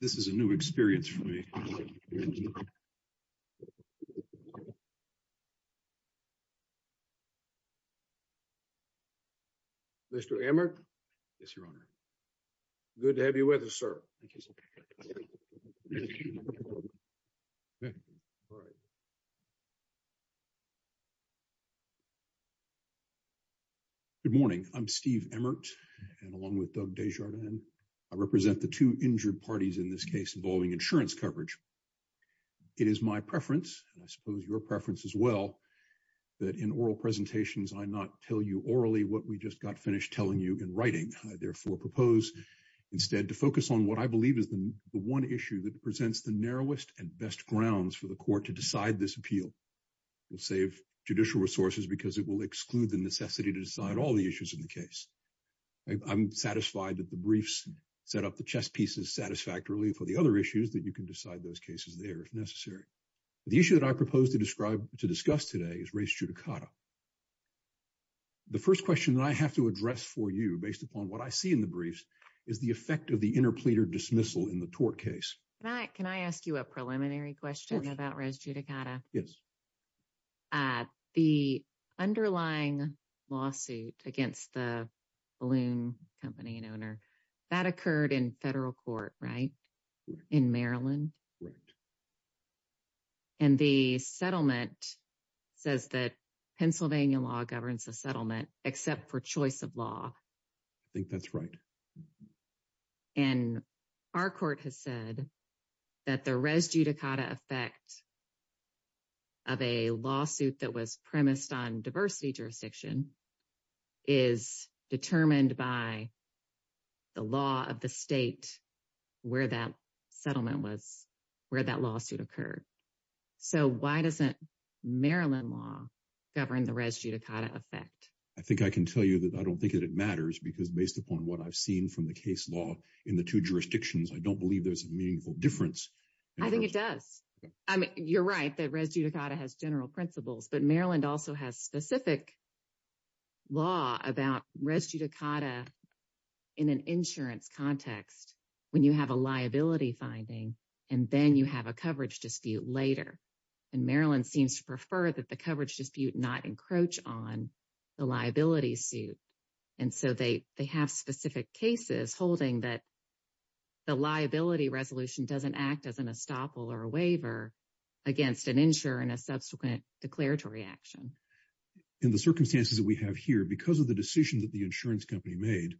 This is a new experience for me. Good morning. I'm Steve Emmert and along with Doug Desjardins, I represent the two injured parties in this case involving insurance coverage. It is my preference, and I suppose your preference as well, that in oral presentations I not tell you orally what we just got finished telling you in writing. I therefore propose instead to focus on what I believe is the one issue that presents the narrowest and best grounds for the court to decide this appeal. We'll save judicial resources because it will exclude the necessity to decide all the issues in the case. I'm satisfied that the briefs set up the chess pieces satisfactorily for the other issues that you can decide those cases there if necessary. The issue that I propose to describe to discuss today is res judicata. The first question that I have to address for you based upon what I see in the briefs is the effect of the interpleader dismissal in the tort case. Can I ask you a preliminary question about res judicata? Yes. At the underlying lawsuit against the balloon company and owner, that occurred in federal court, right, in Maryland? Right. And the settlement says that Pennsylvania law governs the settlement except for choice of law. I think that's right. And our court has said that the res judicata effect of a lawsuit that was premised on diversity jurisdiction is determined by the law of the state where that settlement was, where that lawsuit occurred. So why doesn't Maryland law govern the res judicata effect? I think I can tell you that I don't think that it matters because based upon what I've seen from the case law in the two jurisdictions, I don't believe there's a meaningful difference. I think it does. I mean, you're right that res judicata has general principles, but Maryland also has specific law about res judicata in an insurance context when you have a liability finding, and then you have a coverage dispute later. And Maryland seems to prefer that the coverage dispute not encroach on the liability suit. And so they have specific cases holding that the liability resolution doesn't act as an estoppel or a waiver against an insurer in a subsequent declaratory action. In the circumstances that we have here, because of the decision that the insurance company made,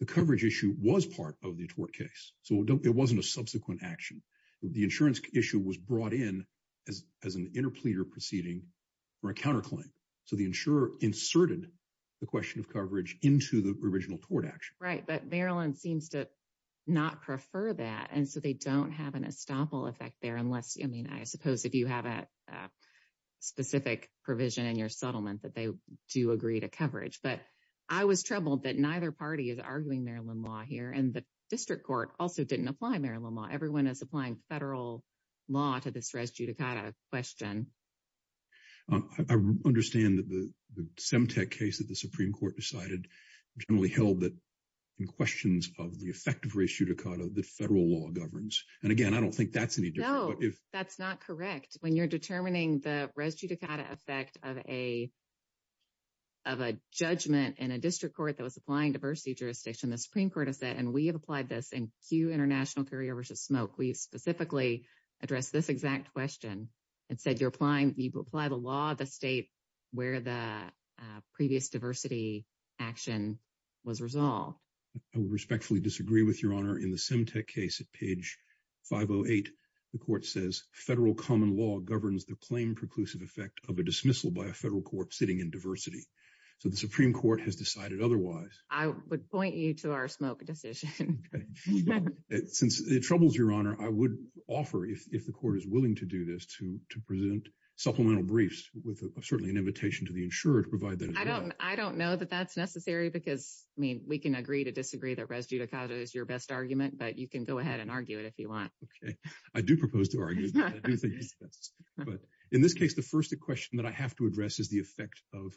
the coverage issue was part of the tort case. So it wasn't a subsequent action. The insurance issue was brought in as an interpleader proceeding or a counterclaim. So the insurer inserted the question of coverage into the original tort action. Right. But Maryland seems to not prefer that. And so they don't have an estoppel effect there unless, I mean, I suppose if you have a specific provision in your settlement that they do agree to coverage. But I was troubled that neither party is arguing Maryland law here. And the district court also didn't apply Maryland law. Everyone is applying federal law to this res judicata question. I understand that the Semtec case that the Supreme Court decided generally held that in questions of the effect of res judicata, the federal law governs. And again, I don't think that's any different. No, that's not correct. When you're determining the res judicata effect of a judgment in a district court that was applying diversity jurisdiction, the Supreme Court has said, and we have applied this in Q International Courier vs. Smoke. We specifically addressed this exact question and said, you apply the law of the state where the previous diversity action was resolved. I would respectfully disagree with Your Honor. In the Semtec case at page 508, the court says federal common law governs the claim preclusive effect of a dismissal by a federal court sitting in diversity. So the Supreme Court has decided otherwise. I would point you to our Smoke decision. Okay. Since it troubles Your Honor, I would offer, if the court is willing to do this, to present supplemental briefs with certainly an invitation to the insurer to provide that as well. I don't know that that's necessary because, I mean, we can agree to disagree that res judicata is your best argument, but you can go ahead and argue it if you want. Okay. I do propose to argue it. But in this case, the first question that I have to address is the effect of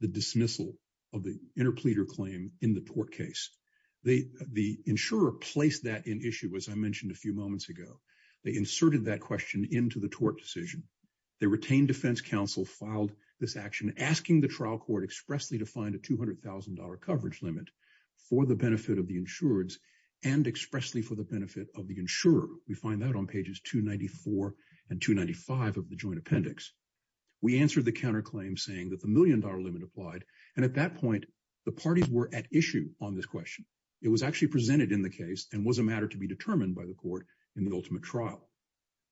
the dismissal of the interpleader claim in the tort case. The insurer placed that in issue, as I mentioned a few moments ago. They inserted that question into the tort decision. They retained defense counsel, filed this action, asking the trial court expressly to find a $200,000 coverage limit for the benefit of the insureds and expressly for the benefit of the insurer. We find that on pages 294 and 295 of the joint appendix. We answered the counterclaim saying that the million-dollar limit applied. And at that point, the parties were at issue on this question. It was actually presented in the case and was a matter to be determined by the court in the ultimate trial.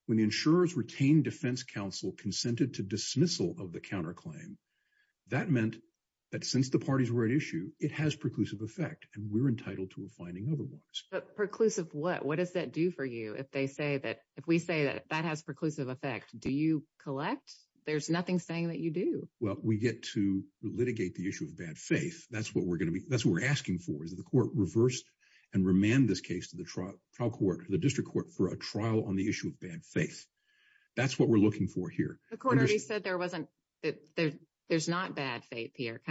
When the insurers retained defense counsel consented to dismissal of the counterclaim, that meant that since the parties were at issue, it has preclusive effect, and we're entitled to a finding otherwise. But preclusive what? What does that do for you if we say that that has preclusive effect? Do you collect? There's nothing saying that you do. Well, we get to litigate the issue of bad faith. That's what we're going to be. That's what we're asking for is the court reversed and remand this case to the trial court, the district court for a trial on the issue of bad faith. That's what we're looking for here. The court already said there wasn't that there's not bad faith here.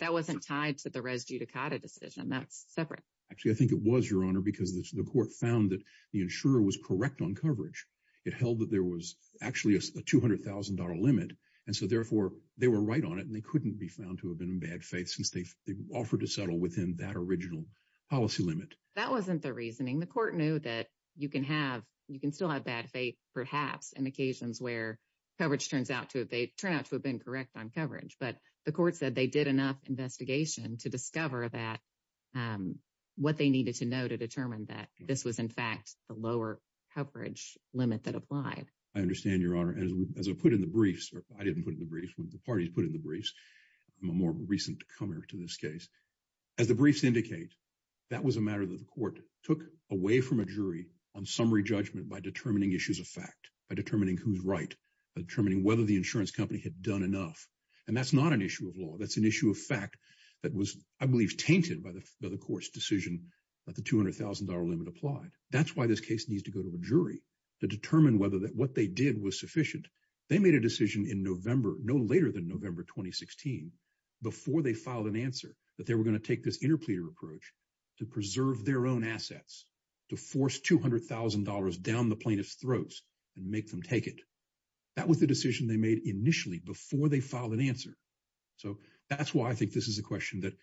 That wasn't tied to the res judicata decision. That's separate. Actually, I think it was, Your Honor, because the court found that the insurer was correct on coverage. It held that there was actually a $200,000 limit. And so, therefore, they were right on it, and they couldn't be found to have been in bad faith since they offered to settle within that original policy limit. That wasn't the reasoning. The court knew that you can have you can still have bad faith, perhaps, in occasions where coverage turns out to have been correct on coverage. But the court said they did enough investigation to discover that what they needed to know to determine that this was, in fact, the lower coverage limit that applied. I understand, Your Honor. As I put in the briefs, or I didn't put in the briefs, the parties put in the briefs. I'm a more recent comer to this case. As the briefs indicate, that was a matter that the court took away from a jury on summary judgment by determining issues of fact, by determining who's right, by determining whether the insurance company had done enough. And that's not an issue of law. That's an issue of fact that was, I believe, tainted by the court's decision that the $200,000 limit applied. That's why this case needs to go to a jury to determine whether what they did was sufficient. They made a decision in November, no later than November 2016, before they filed an answer that they were going to take this interpleader approach to preserve their own assets, to force $200,000 down the plaintiff's throats and make them take it. That was the decision they made initially before they filed an answer. So that's why I think this is a question that,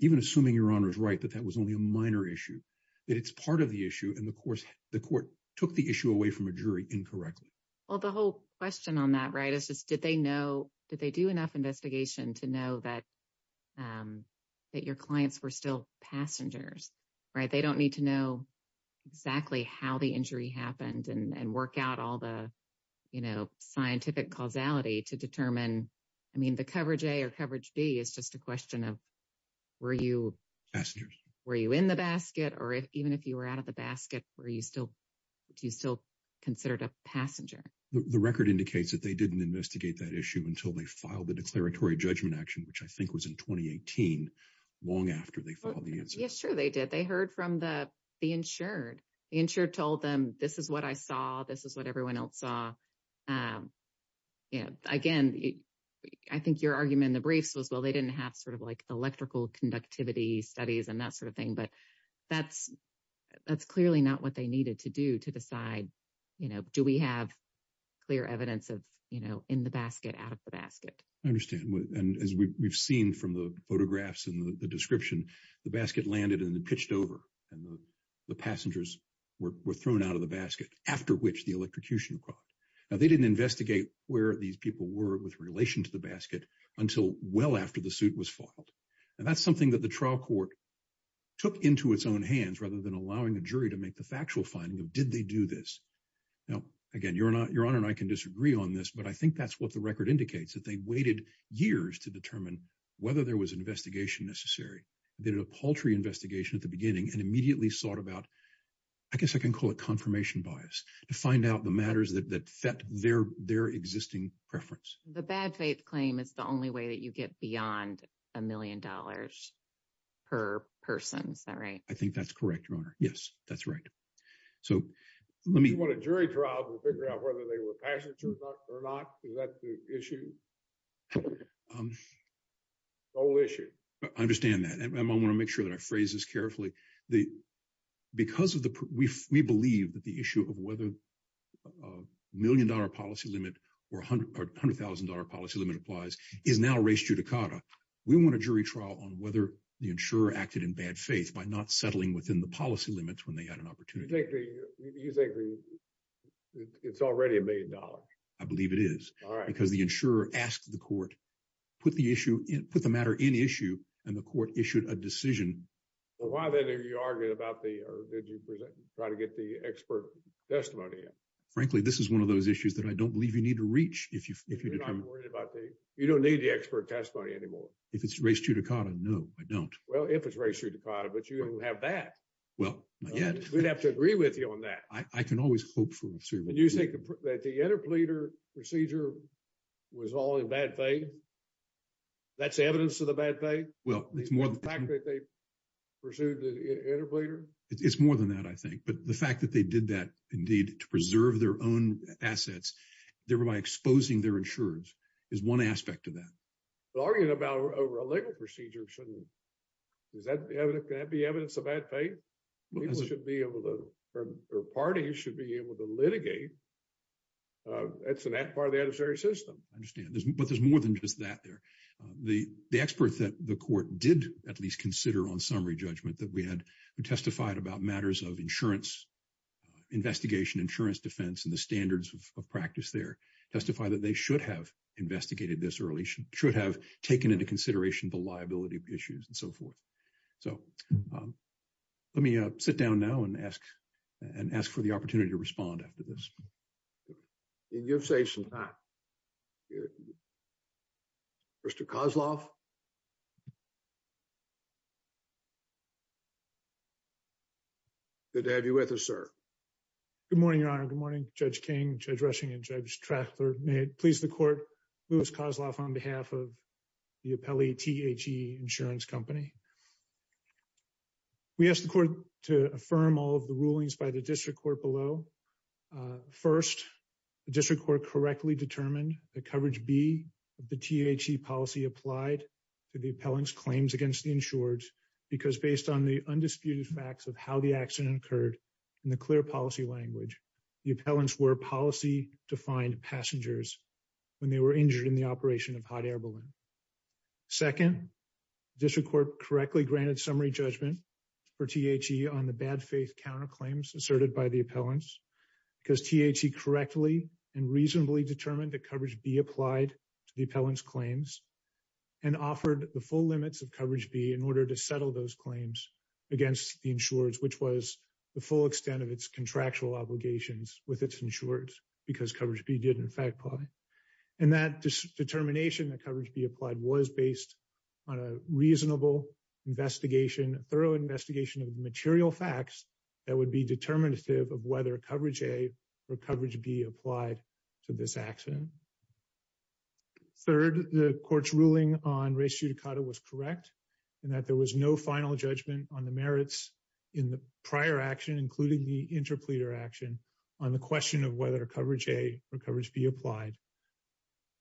even assuming Your Honor is right, that that was only a minor issue, that it's part of the issue. And the court took the issue away from a jury incorrectly. Well, the whole question on that, right, is just did they know, did they do enough investigation to know that your clients were still passengers, right? They don't need to know exactly how the injury happened and work out all the, you know, scientific causality to determine. I mean, the coverage A or coverage B is just a question of were you in the basket or even if you were out of the basket, were you still, do you still consider it a passenger? The record indicates that they didn't investigate that issue until they filed the declaratory judgment action, which I think was in 2018, long after they filed the answer. Yeah, sure they did. They heard from the insured. The insured told them, this is what I saw. This is what everyone else saw. Again, I think your argument in the briefs was, well, they didn't have sort of like electrical conductivity studies and that sort of thing. But that's clearly not what they needed to do to decide, you know, do we have clear evidence of, you know, in the basket, out of the basket? I understand. And as we've seen from the photographs and the description, the basket landed and pitched over and the passengers were thrown out of the basket, after which the electrocution occurred. Now, they didn't investigate where these people were with relation to the basket until well after the suit was filed. And that's something that the trial court took into its own hands rather than allowing a jury to make the factual finding of, did they do this? Now, again, Your Honor and I can disagree on this, but I think that's what the record indicates, that they waited years to determine whether there was an investigation necessary. They did a paltry investigation at the beginning and immediately sought about, I guess I can call it confirmation bias, to find out the matters that set their existing preference. The bad faith claim is the only way that you get beyond a million dollars per person, is that right? I think that's correct, Your Honor. Yes, that's right. So let me- You want a jury trial to figure out whether they were passengers or not? Is that the issue? The whole issue. I understand that. And I want to make sure that I phrase this carefully. The, because of the, we believe that the issue of whether a million dollar policy limit or $100,000 policy limit applies is now res judicata. We want a jury trial on whether the insurer acted in bad faith by not settling within the policy limits when they had an opportunity. You think it's already a million dollars? I believe it is. All right. Because the insurer asked the court, put the matter in issue, and the court issued a decision. Why then are you arguing about the, or did you try to get the expert testimony in? Frankly, this is one of those issues that I don't believe you need to reach if you- You're not worried about the, you don't need the expert testimony anymore. If it's res judicata, no, I don't. Well, if it's res judicata, but you don't have that. Well, not yet. We'd have to agree with you on that. I can always hope for a jury review. And you think that the interpleader procedure was all in bad faith? That's evidence of the bad faith? Well, it's more than- The fact that they pursued the interpleader? It's more than that, I think. But the fact that they did that, indeed, to preserve their own assets, thereby exposing their insurance, is one aspect of that. But arguing about a legal procedure shouldn't, can that be evidence of bad faith? People should be able to, or parties should be able to litigate. It's a part of the adversary system. I understand. But there's more than just that there. The expert that the court did at least consider on summary judgment that we had, who testified about matters of insurance, investigation, insurance defense, and the standards of practice there, testify that they should have investigated this early, should have taken into consideration the liability issues and so forth. So let me sit down now and ask for the opportunity to respond after this. And you've saved some time. Mr. Kozloff? Good to have you with us, sir. Good morning, Your Honor. Good morning, Judge King, Judge Rushing, and Judge Traffler. May it please the court, Louis Kozloff on behalf of the appellee THE Insurance Company. We ask the court to affirm all of the rulings by the district court below. First, the district court correctly determined that coverage B of the THE policy applied to the appellant's claims against the insured because based on the undisputed facts of how the accident occurred in the clear policy language, the appellants were policy-defined passengers when they were injured in the operation of hot air balloon. Second, district court correctly granted summary judgment for THE on the bad faith counterclaims asserted by the appellants because THE correctly and reasonably determined that offered the full limits of coverage B in order to settle those claims against the insured, which was the full extent of its contractual obligations with its insured because coverage B did, in fact, apply. And that determination that coverage B applied was based on a reasonable investigation, a thorough investigation of the material facts that would be determinative of whether coverage A or coverage B applied to this accident. Third, the court's ruling on res judicata was correct in that there was no final judgment on the merits in the prior action, including the interpleader action, on the question of whether coverage A or coverage B applied.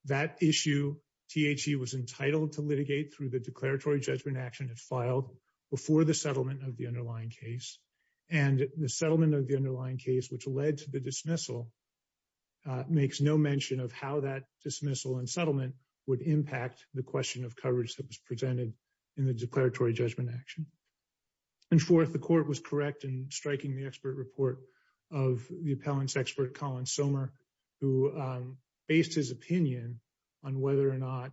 That issue, THE was entitled to litigate through the declaratory judgment action it filed before the settlement of the underlying case. And the settlement of the underlying case, which led to the dismissal, makes no mention of how that dismissal and settlement would impact the question of coverage that was presented in the declaratory judgment action. And fourth, the court was correct in striking the expert report of the appellant's expert, Colin Sommer, who based his opinion on whether or not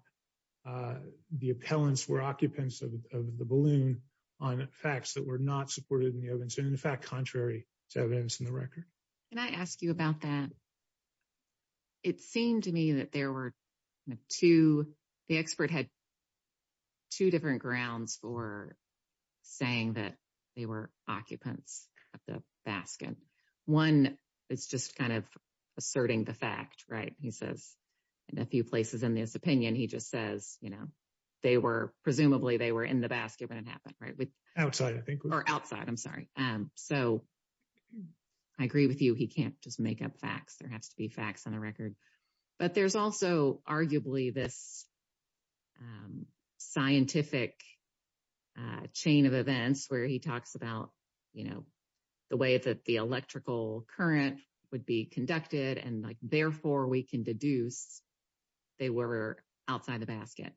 the appellants were occupants of the balloon on facts that were not supported in the evidence and, in fact, contrary to evidence in the record. Can I ask you about that? It seemed to me that there were two, the expert had two different grounds for saying that they were occupants of the basket. One, it's just kind of asserting the fact, right? He says, in a few places in this opinion, he just says, you know, they were, presumably, they were in the basket when it happened, right? Outside, I think. Or outside, I'm sorry. So I agree with you. He can't just make up facts. There has to be facts on the record. But there's also, arguably, this scientific chain of events where he talks about, you know, the way that the electrical current would be conducted and, like, therefore, we can deduce they were outside the basket.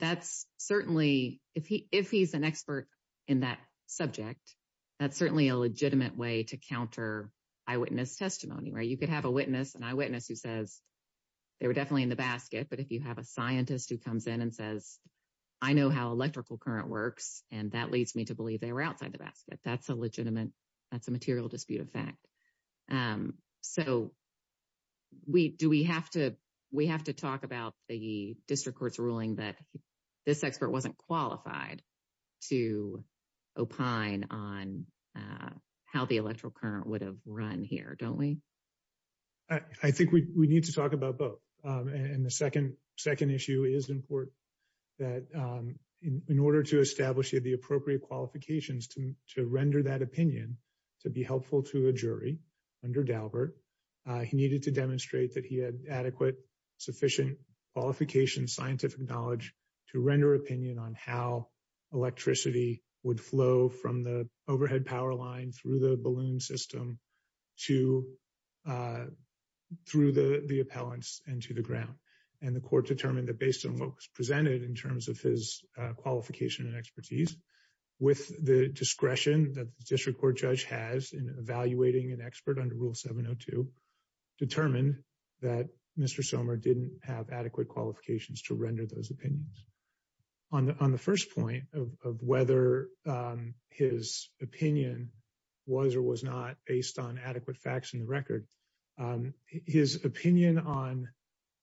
That's certainly, if he's an expert in that subject, that's certainly a legitimate way to counter eyewitness testimony, right? You could have a witness, an eyewitness who says, they were definitely in the basket. But if you have a scientist who comes in and says, I know how electrical current works, and that leads me to believe they were outside the basket, that's a legitimate, that's a material dispute of fact. And so, do we have to, we have to talk about the district court's ruling that this expert wasn't qualified to opine on how the electrical current would have run here, don't we? I think we need to talk about both. And the second issue is important, that in order to establish the appropriate qualifications to render that opinion, to be helpful to a jury under Daubert, he needed to demonstrate that he had adequate, sufficient qualification, scientific knowledge to render opinion on how electricity would flow from the overhead power line through the balloon system to, through the appellants and to the ground. And the court determined that based on what was presented in terms of his discretion that the district court judge has in evaluating an expert under Rule 702, determined that Mr. Somer didn't have adequate qualifications to render those opinions. On the first point of whether his opinion was or was not based on adequate facts in the record, his opinion on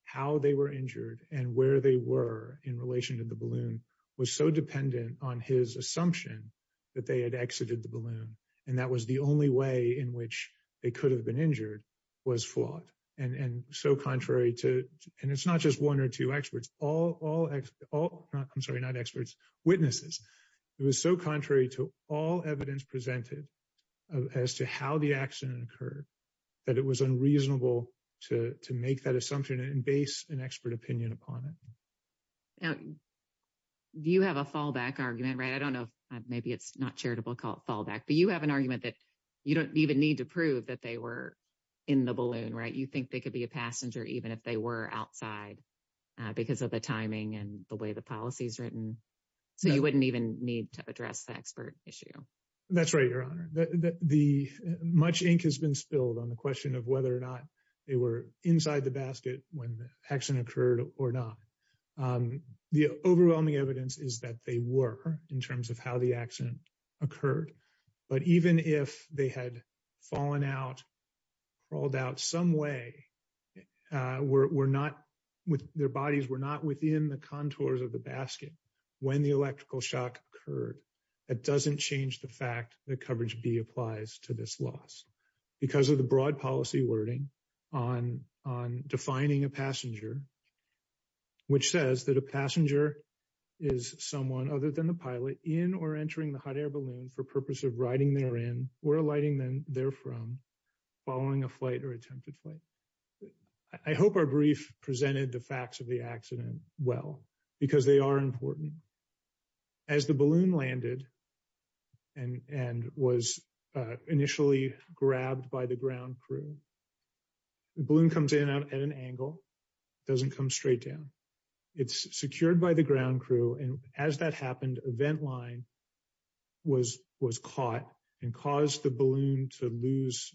how they were injured and where they were in relation to the balloon was so dependent on his assumption that they had exited the balloon. And that was the only way in which they could have been injured was flawed. And so contrary to, and it's not just one or two experts, all, I'm sorry, not experts, witnesses. It was so contrary to all evidence presented as to how the accident occurred that it was unreasonable to make that assumption and base an expert opinion upon it. Do you have a fallback argument, right? I don't know. Maybe it's not charitable fallback, but you have an argument that you don't even need to prove that they were in the balloon, right? You think they could be a passenger even if they were outside because of the timing and the way the policy is written. So you wouldn't even need to address the expert issue. That's right, Your Honor. The much ink has been spilled on the question of whether or not they were inside the basket when the accident occurred or not. The overwhelming evidence is that they were in terms of how the accident occurred. But even if they had fallen out, crawled out some way, their bodies were not within the contours of the basket when the electrical shock occurred. That doesn't change the fact that coverage B applies to this loss because of the broad policy wording on defining a passenger, which says that a passenger is someone other than the pilot in or entering the hot air balloon for purpose of riding therein or alighting them therefrom following a flight or attempted flight. I hope our brief presented the facts of the accident well because they are important. As the balloon landed and was initially grabbed by the ground crew, the balloon comes in at an angle, doesn't come straight down. It's secured by the ground crew. And as that happened, a vent line was caught and caused the balloon to lose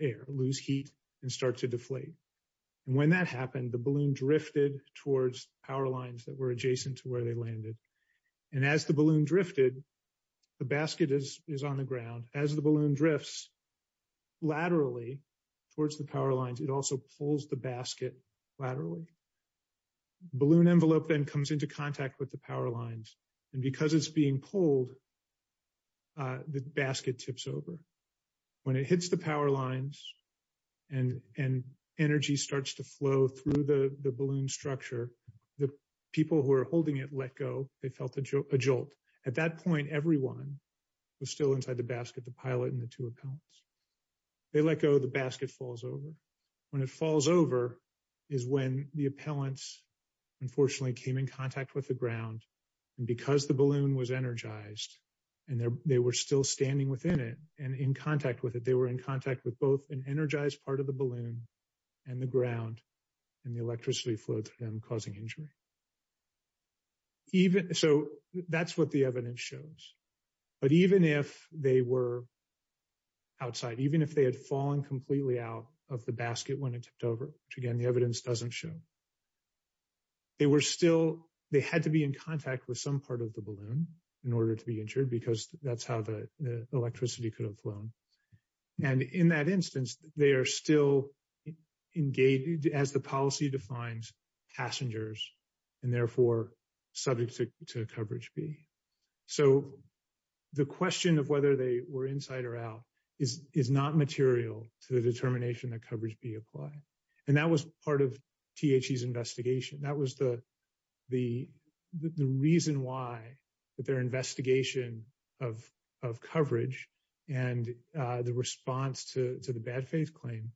air, lose heat and start to deflate. And when that happened, the balloon drifted towards power lines that were adjacent to where they landed. And as the balloon drifted, the basket is on the ground. As the balloon drifts laterally towards the power lines, it also pulls the basket laterally. Balloon envelope then comes into contact with the power lines. And because it's being pulled, the basket tips over. When it hits the power lines and energy starts to flow through the balloon structure, the crew holding it let go. They felt a jolt. At that point, everyone was still inside the basket, the pilot and the two appellants. They let go, the basket falls over. When it falls over is when the appellants unfortunately came in contact with the ground. And because the balloon was energized and they were still standing within it and in contact with it, they were in contact with both an energized part of the balloon and the ground and the electricity flowed through them causing injury. Even so, that's what the evidence shows. But even if they were outside, even if they had fallen completely out of the basket when it tipped over, which again, the evidence doesn't show, they were still, they had to be in contact with some part of the balloon in order to be injured because that's how the electricity could have flown. And in that instance, they are still engaged, as the policy defines, passengers and therefore subject to coverage B. So the question of whether they were inside or out is not material to the determination that coverage B applied. And that was part of THC's investigation. That was the reason why their investigation of coverage and the response to the bad faith claim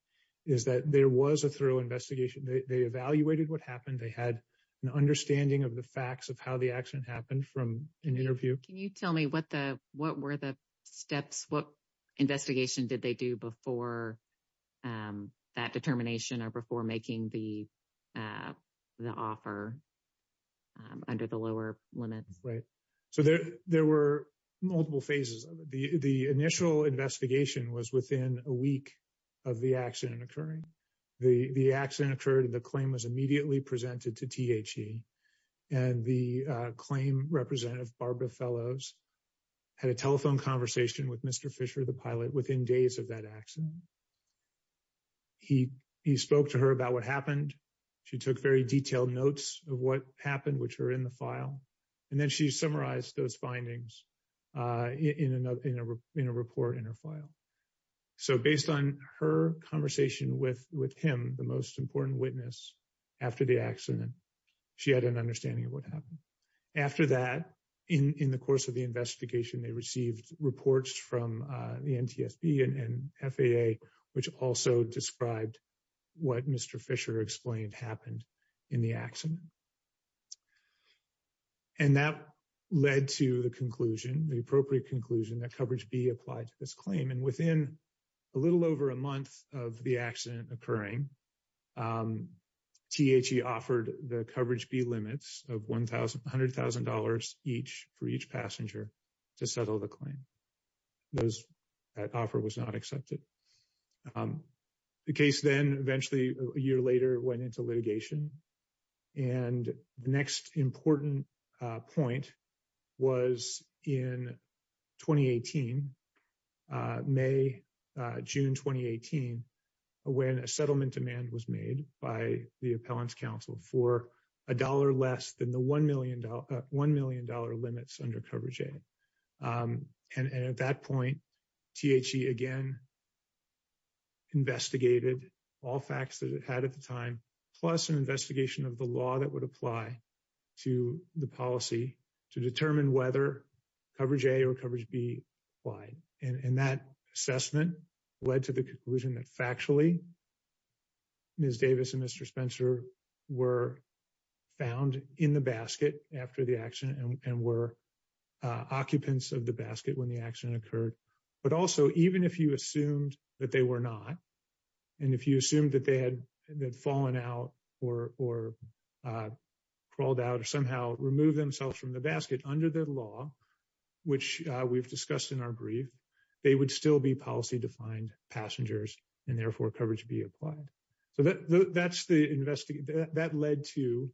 is that there was a thorough investigation. They evaluated what happened. They had an understanding of the facts of how the accident happened from an interview. Can you tell me what were the steps, what investigation did they do before that determination or before making the offer under the lower limits? Right. So there were multiple phases. The initial investigation was within a week of the accident occurring. The accident occurred and the claim was immediately presented to THC. And the claim representative, Barbara Fellows, had a telephone conversation with Mr. Fisher, the pilot, within days of that accident. And he spoke to her about what happened. She took very detailed notes of what happened, which are in the file. And then she summarized those findings in a report in her file. So based on her conversation with him, the most important witness, after the accident, she had an understanding of what happened. After that, in the course of the investigation, they received reports from the NTSB and FAA which also described what Mr. Fisher explained happened in the accident. And that led to the conclusion, the appropriate conclusion, that coverage B applied to this claim. And within a little over a month of the accident occurring, THC offered the coverage B limits of $100,000 each for each passenger to settle the claim. That offer was not accepted. The case then eventually, a year later, went into litigation. And the next important point was in 2018, May, June 2018, when a settlement demand was made by the Appellants' Council for a dollar less than the $1 million limits under coverage A. And at that point, THC again investigated all facts that it had at the time, plus an investigation of the law that would apply to the policy to determine whether coverage A or coverage B applied. And that assessment led to the conclusion that factually, Ms. Davis and Mr. Spencer were found in the basket after the accident and were occupants of the basket when the accident occurred. But also, even if you assumed that they were not, and if you assumed that they had fallen out or crawled out or somehow removed themselves from the basket under the law, which we've discussed in our brief, they would still be policy-defined passengers and therefore coverage B applied. So that's the investigation. That led to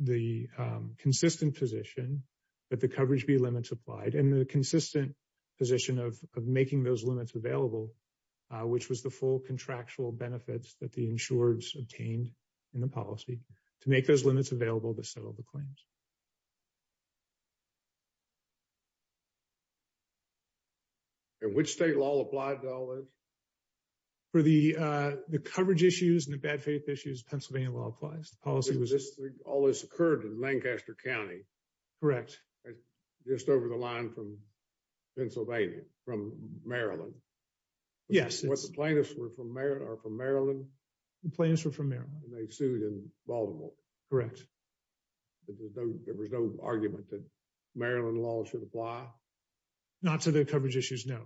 the consistent position that the coverage B limits applied and the consistent position of making those limits available, which was the full contractual benefits that the insurers obtained in the policy to make those limits available to settle the claims. And which state law applied to all this? For the coverage issues and the bad faith issues, Pennsylvania law applies. All this occurred in Lancaster County? Correct. Just over the line from Pennsylvania, from Maryland? Yes. But the plaintiffs were from Maryland? The plaintiffs were from Maryland. And they sued in Baltimore? Correct. There was no argument that Maryland law should apply? Not to the coverage issues, no.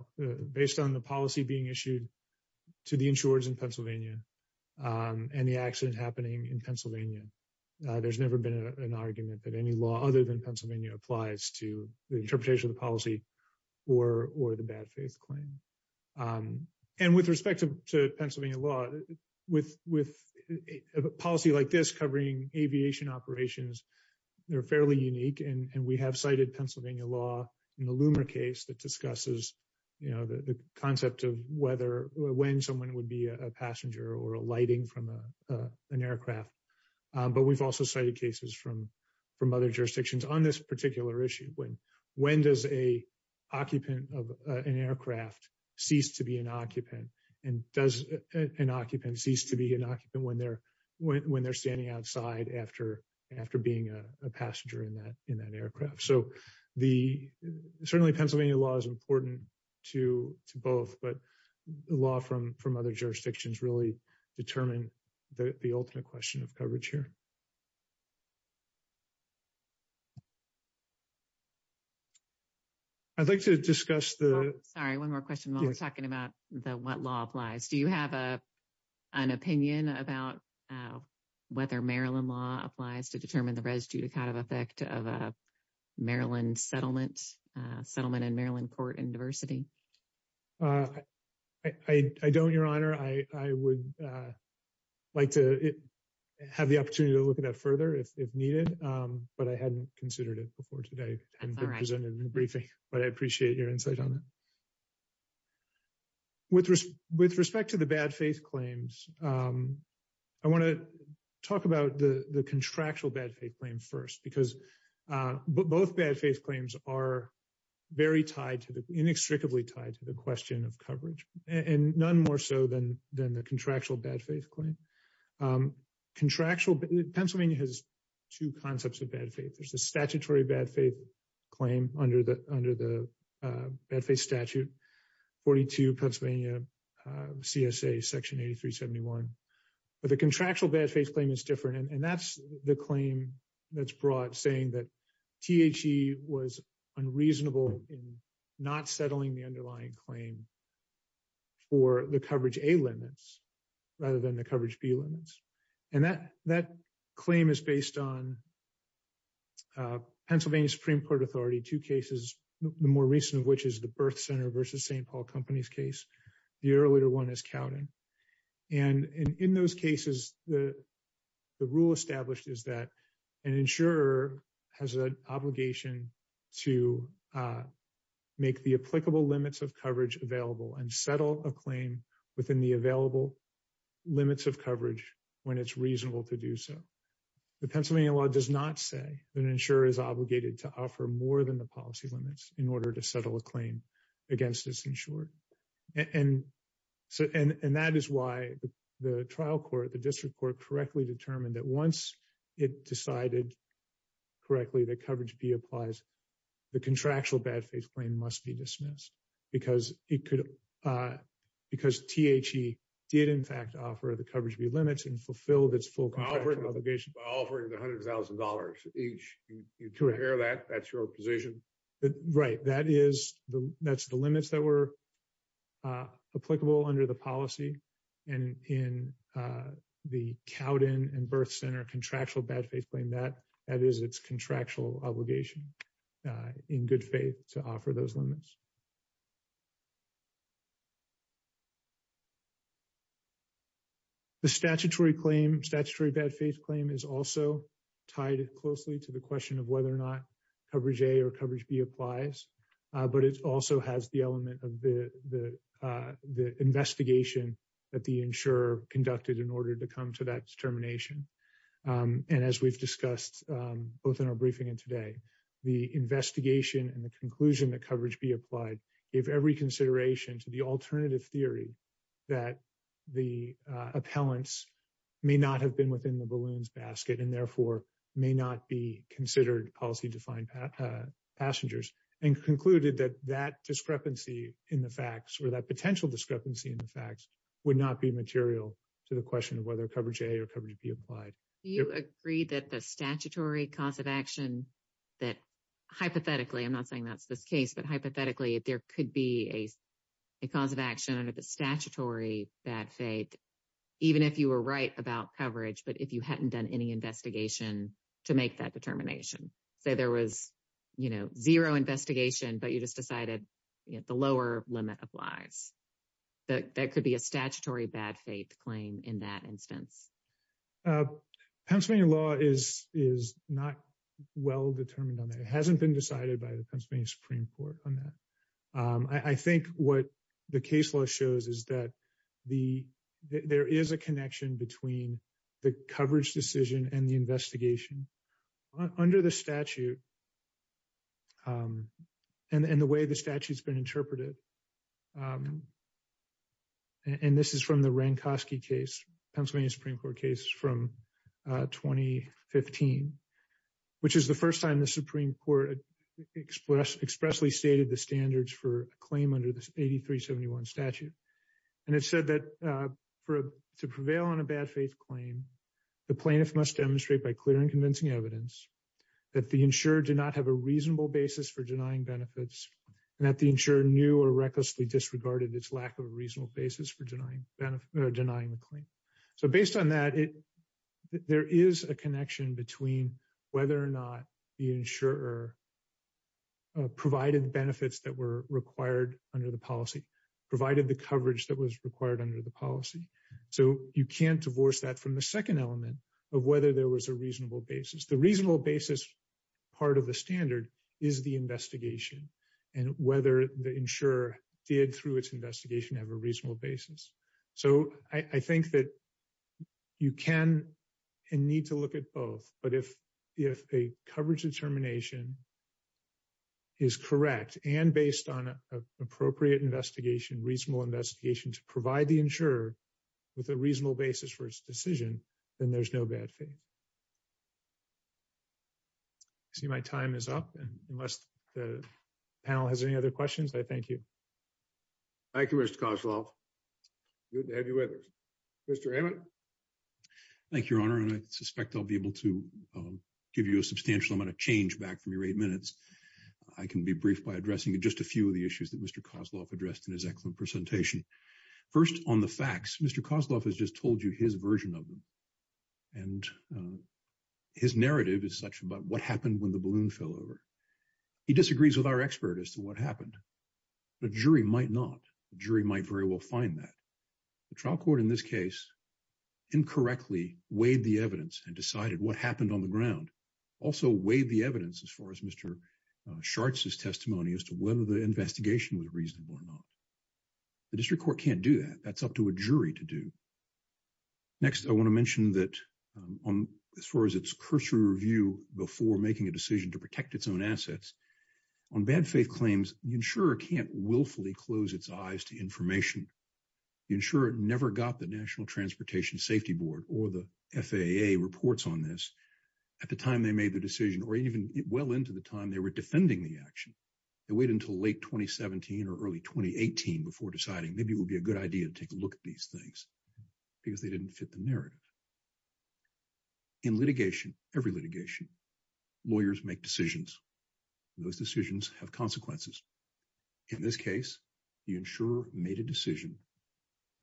Based on the policy being issued to the insurers in Pennsylvania and the accident happening in Pennsylvania, there's never been an argument that any law other than Pennsylvania applies to the interpretation of the policy or the bad faith claim. And with respect to Pennsylvania law, with a policy like this covering aviation operations, they're fairly unique. And we have cited Pennsylvania law in the Loomer case that discusses the concept of when someone would be a passenger or a lighting from an aircraft. But we've also cited cases from other jurisdictions on this particular issue. When does an occupant of an aircraft cease to be an occupant? And does an occupant cease to be an occupant when they're standing outside after being a passenger in that aircraft? So certainly, Pennsylvania law is important to both, but the law from other jurisdictions really determine the ultimate question of coverage here. I'd like to discuss the... Sorry, one more question while we're talking about what law applies. Do you have an opinion about whether Maryland law applies to determine the residue kind of effect of a Maryland settlement, settlement in Maryland court and diversity? I don't, Your Honor. I would like to have the opportunity to look at that further if needed, but I hadn't considered it before today and presented in the briefing, but I appreciate your insight on it. With respect to the bad faith claims, I want to talk about the contractual bad faith claim first because both bad faith claims are very tied to the... Inextricably tied to the question of coverage and none more so than the contractual bad faith claim. Contractual... Pennsylvania has two concepts of bad faith. There's the statutory bad faith claim under the bad faith statute, 42 Pennsylvania CSA section 8371. But the contractual bad faith claim is different and that's the claim that's brought saying that THC was unreasonable in not settling the underlying claim for the coverage A limits rather than the coverage B limits. And that claim is based on Pennsylvania Supreme Court authority, two cases, the more recent which is the birth center versus St. Paul company's case. The earlier one is Cowden. And in those cases, the rule established is that an insurer has an obligation to make the applicable limits of coverage available and settle a claim within the available limits of coverage when it's reasonable to do so. The Pennsylvania law does not say that an insurer is obligated to offer more than the policy limits in order to settle a claim against this insured. And that is why the trial court, the district court correctly determined that once it decided correctly that coverage B applies, the contractual bad faith claim must be dismissed because THC did in fact offer the coverage B limits and fulfilled its full obligation. By offering the $100,000 each, you hear that, that's your position. Right. That is the limits that were applicable under the policy and in the Cowden and birth center contractual bad faith claim that is its contractual obligation in good faith to offer those limits. The statutory claim, statutory bad faith claim is also tied closely to the question of whether or not coverage A or coverage B applies. But it also has the element of the investigation that the insurer conducted in order to come to that determination. And as we've discussed both in our briefing and today, the investigation and the conclusion that coverage B applied gave every consideration to the alternative theory that the appellants may not have been within the balloons basket and therefore may not be considered policy defined passengers and concluded that that discrepancy in the facts or that potential discrepancy in the facts would not be material to the question of whether coverage A or coverage B applied. Do you agree that the statutory cause of action that hypothetically, I'm not saying that's the case, but hypothetically, if there could be a cause of action under the statutory bad faith, even if you were right about coverage, but if you hadn't done any investigation to make that determination, say there was, you know, zero investigation, but you just decided the lower limit applies. That could be a statutory bad faith claim in that instance. Pennsylvania law is not well determined on that. It hasn't been decided by the Pennsylvania Supreme Court on that. I think what the case law shows is that there is a connection between the coverage decision and the investigation under the statute and the way the statute has been interpreted. And this is from the Rankoski case, Pennsylvania Supreme Court case from 2015, which is the Supreme Court expressly stated the standards for a claim under the 8371 statute. And it said that to prevail on a bad faith claim, the plaintiff must demonstrate by clear and convincing evidence that the insurer did not have a reasonable basis for denying benefits and that the insurer knew or recklessly disregarded its lack of a reasonable basis for denying the claim. So based on that, there is a connection between whether or not the insurer provided benefits that were required under the policy, provided the coverage that was required under the policy. So you can't divorce that from the second element of whether there was a reasonable basis. The reasonable basis part of the standard is the investigation and whether the insurer did through its investigation have a reasonable basis. So I think that you can and need to look at both. But if a coverage determination is correct and based on an appropriate investigation, reasonable investigation to provide the insurer with a reasonable basis for its decision, then there's no bad faith. I see my time is up. And unless the panel has any other questions, I thank you. Thank you, Mr. Kosloff. Good to have you with us. Mr. Hammond. Thank you, Your Honor. And I suspect I'll be able to give you a substantial amount of change back from your eight minutes. I can be briefed by addressing just a few of the issues that Mr. Kosloff addressed in his excellent presentation. First, on the facts, Mr. Kosloff has just told you his version of them. And his narrative is such about what happened when the balloon fell over. He disagrees with our expert as to what happened. The jury might not. The jury might very well find that. The trial court in this case incorrectly weighed the evidence and decided what happened on the ground. Also weighed the evidence as far as Mr. Shartz's testimony as to whether the investigation was reasonable or not. The district court can't do that. That's up to a jury to do. Next, I want to mention that as far as its cursory review before making a decision to willfully close its eyes to information, the insurer never got the National Transportation Safety Board or the FAA reports on this at the time they made the decision or even well into the time they were defending the action. They waited until late 2017 or early 2018 before deciding maybe it would be a good idea to take a look at these things because they didn't fit the narrative. In litigation, every litigation, lawyers make decisions. Those decisions have consequences. In this case, the insurer made a decision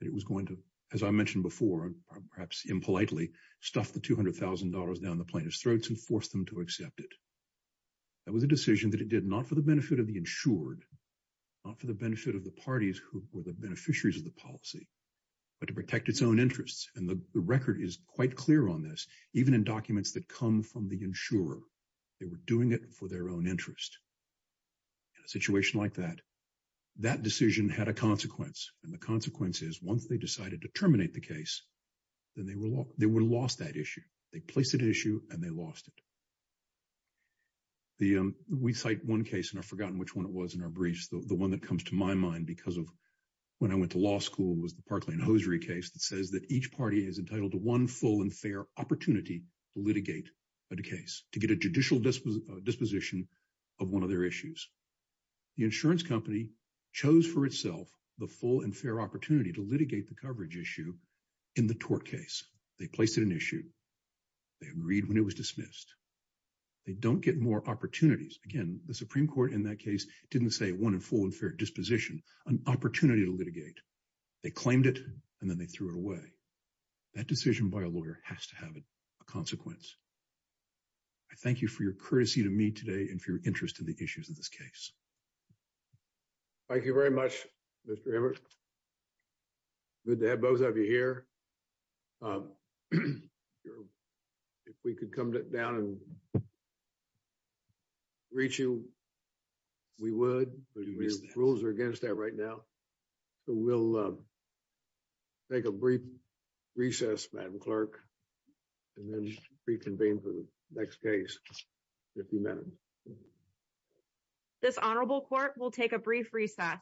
that it was going to, as I mentioned before, perhaps impolitely, stuff the $200,000 down the plaintiff's throats and force them to accept it. That was a decision that it did not for the benefit of the insured, not for the benefit of the parties who were the beneficiaries of the policy, but to protect its own interests. And the record is quite clear on this. Even in documents that come from the insurer, they were doing it for their own interest. In a situation like that, that decision had a consequence, and the consequence is once they decided to terminate the case, then they would have lost that issue. They placed an issue and they lost it. We cite one case, and I've forgotten which one it was in our briefs. The one that comes to my mind because of when I went to law school was the Parkland-Hosiery case that says that each party is entitled to one full and fair opportunity to litigate a case, to get a judicial disposition of one of their issues. The insurance company chose for itself the full and fair opportunity to litigate the coverage issue in the tort case. They placed an issue. They agreed when it was dismissed. They don't get more opportunities. Again, the Supreme Court in that case didn't say one and full and fair disposition, an opportunity to litigate. They claimed it, and then they threw it away. That decision by a lawyer has to have a consequence. I thank you for your courtesy to me today and for your interest in the issues of this case. Thank you very much, Mr. Emmert. Good to have both of you here. If we could come down and reach you, we would, but the rules are against that right now. So we'll take a brief recess, Madam Clerk, and then reconvene for the next case in a few minutes. This honorable court will take a brief recess.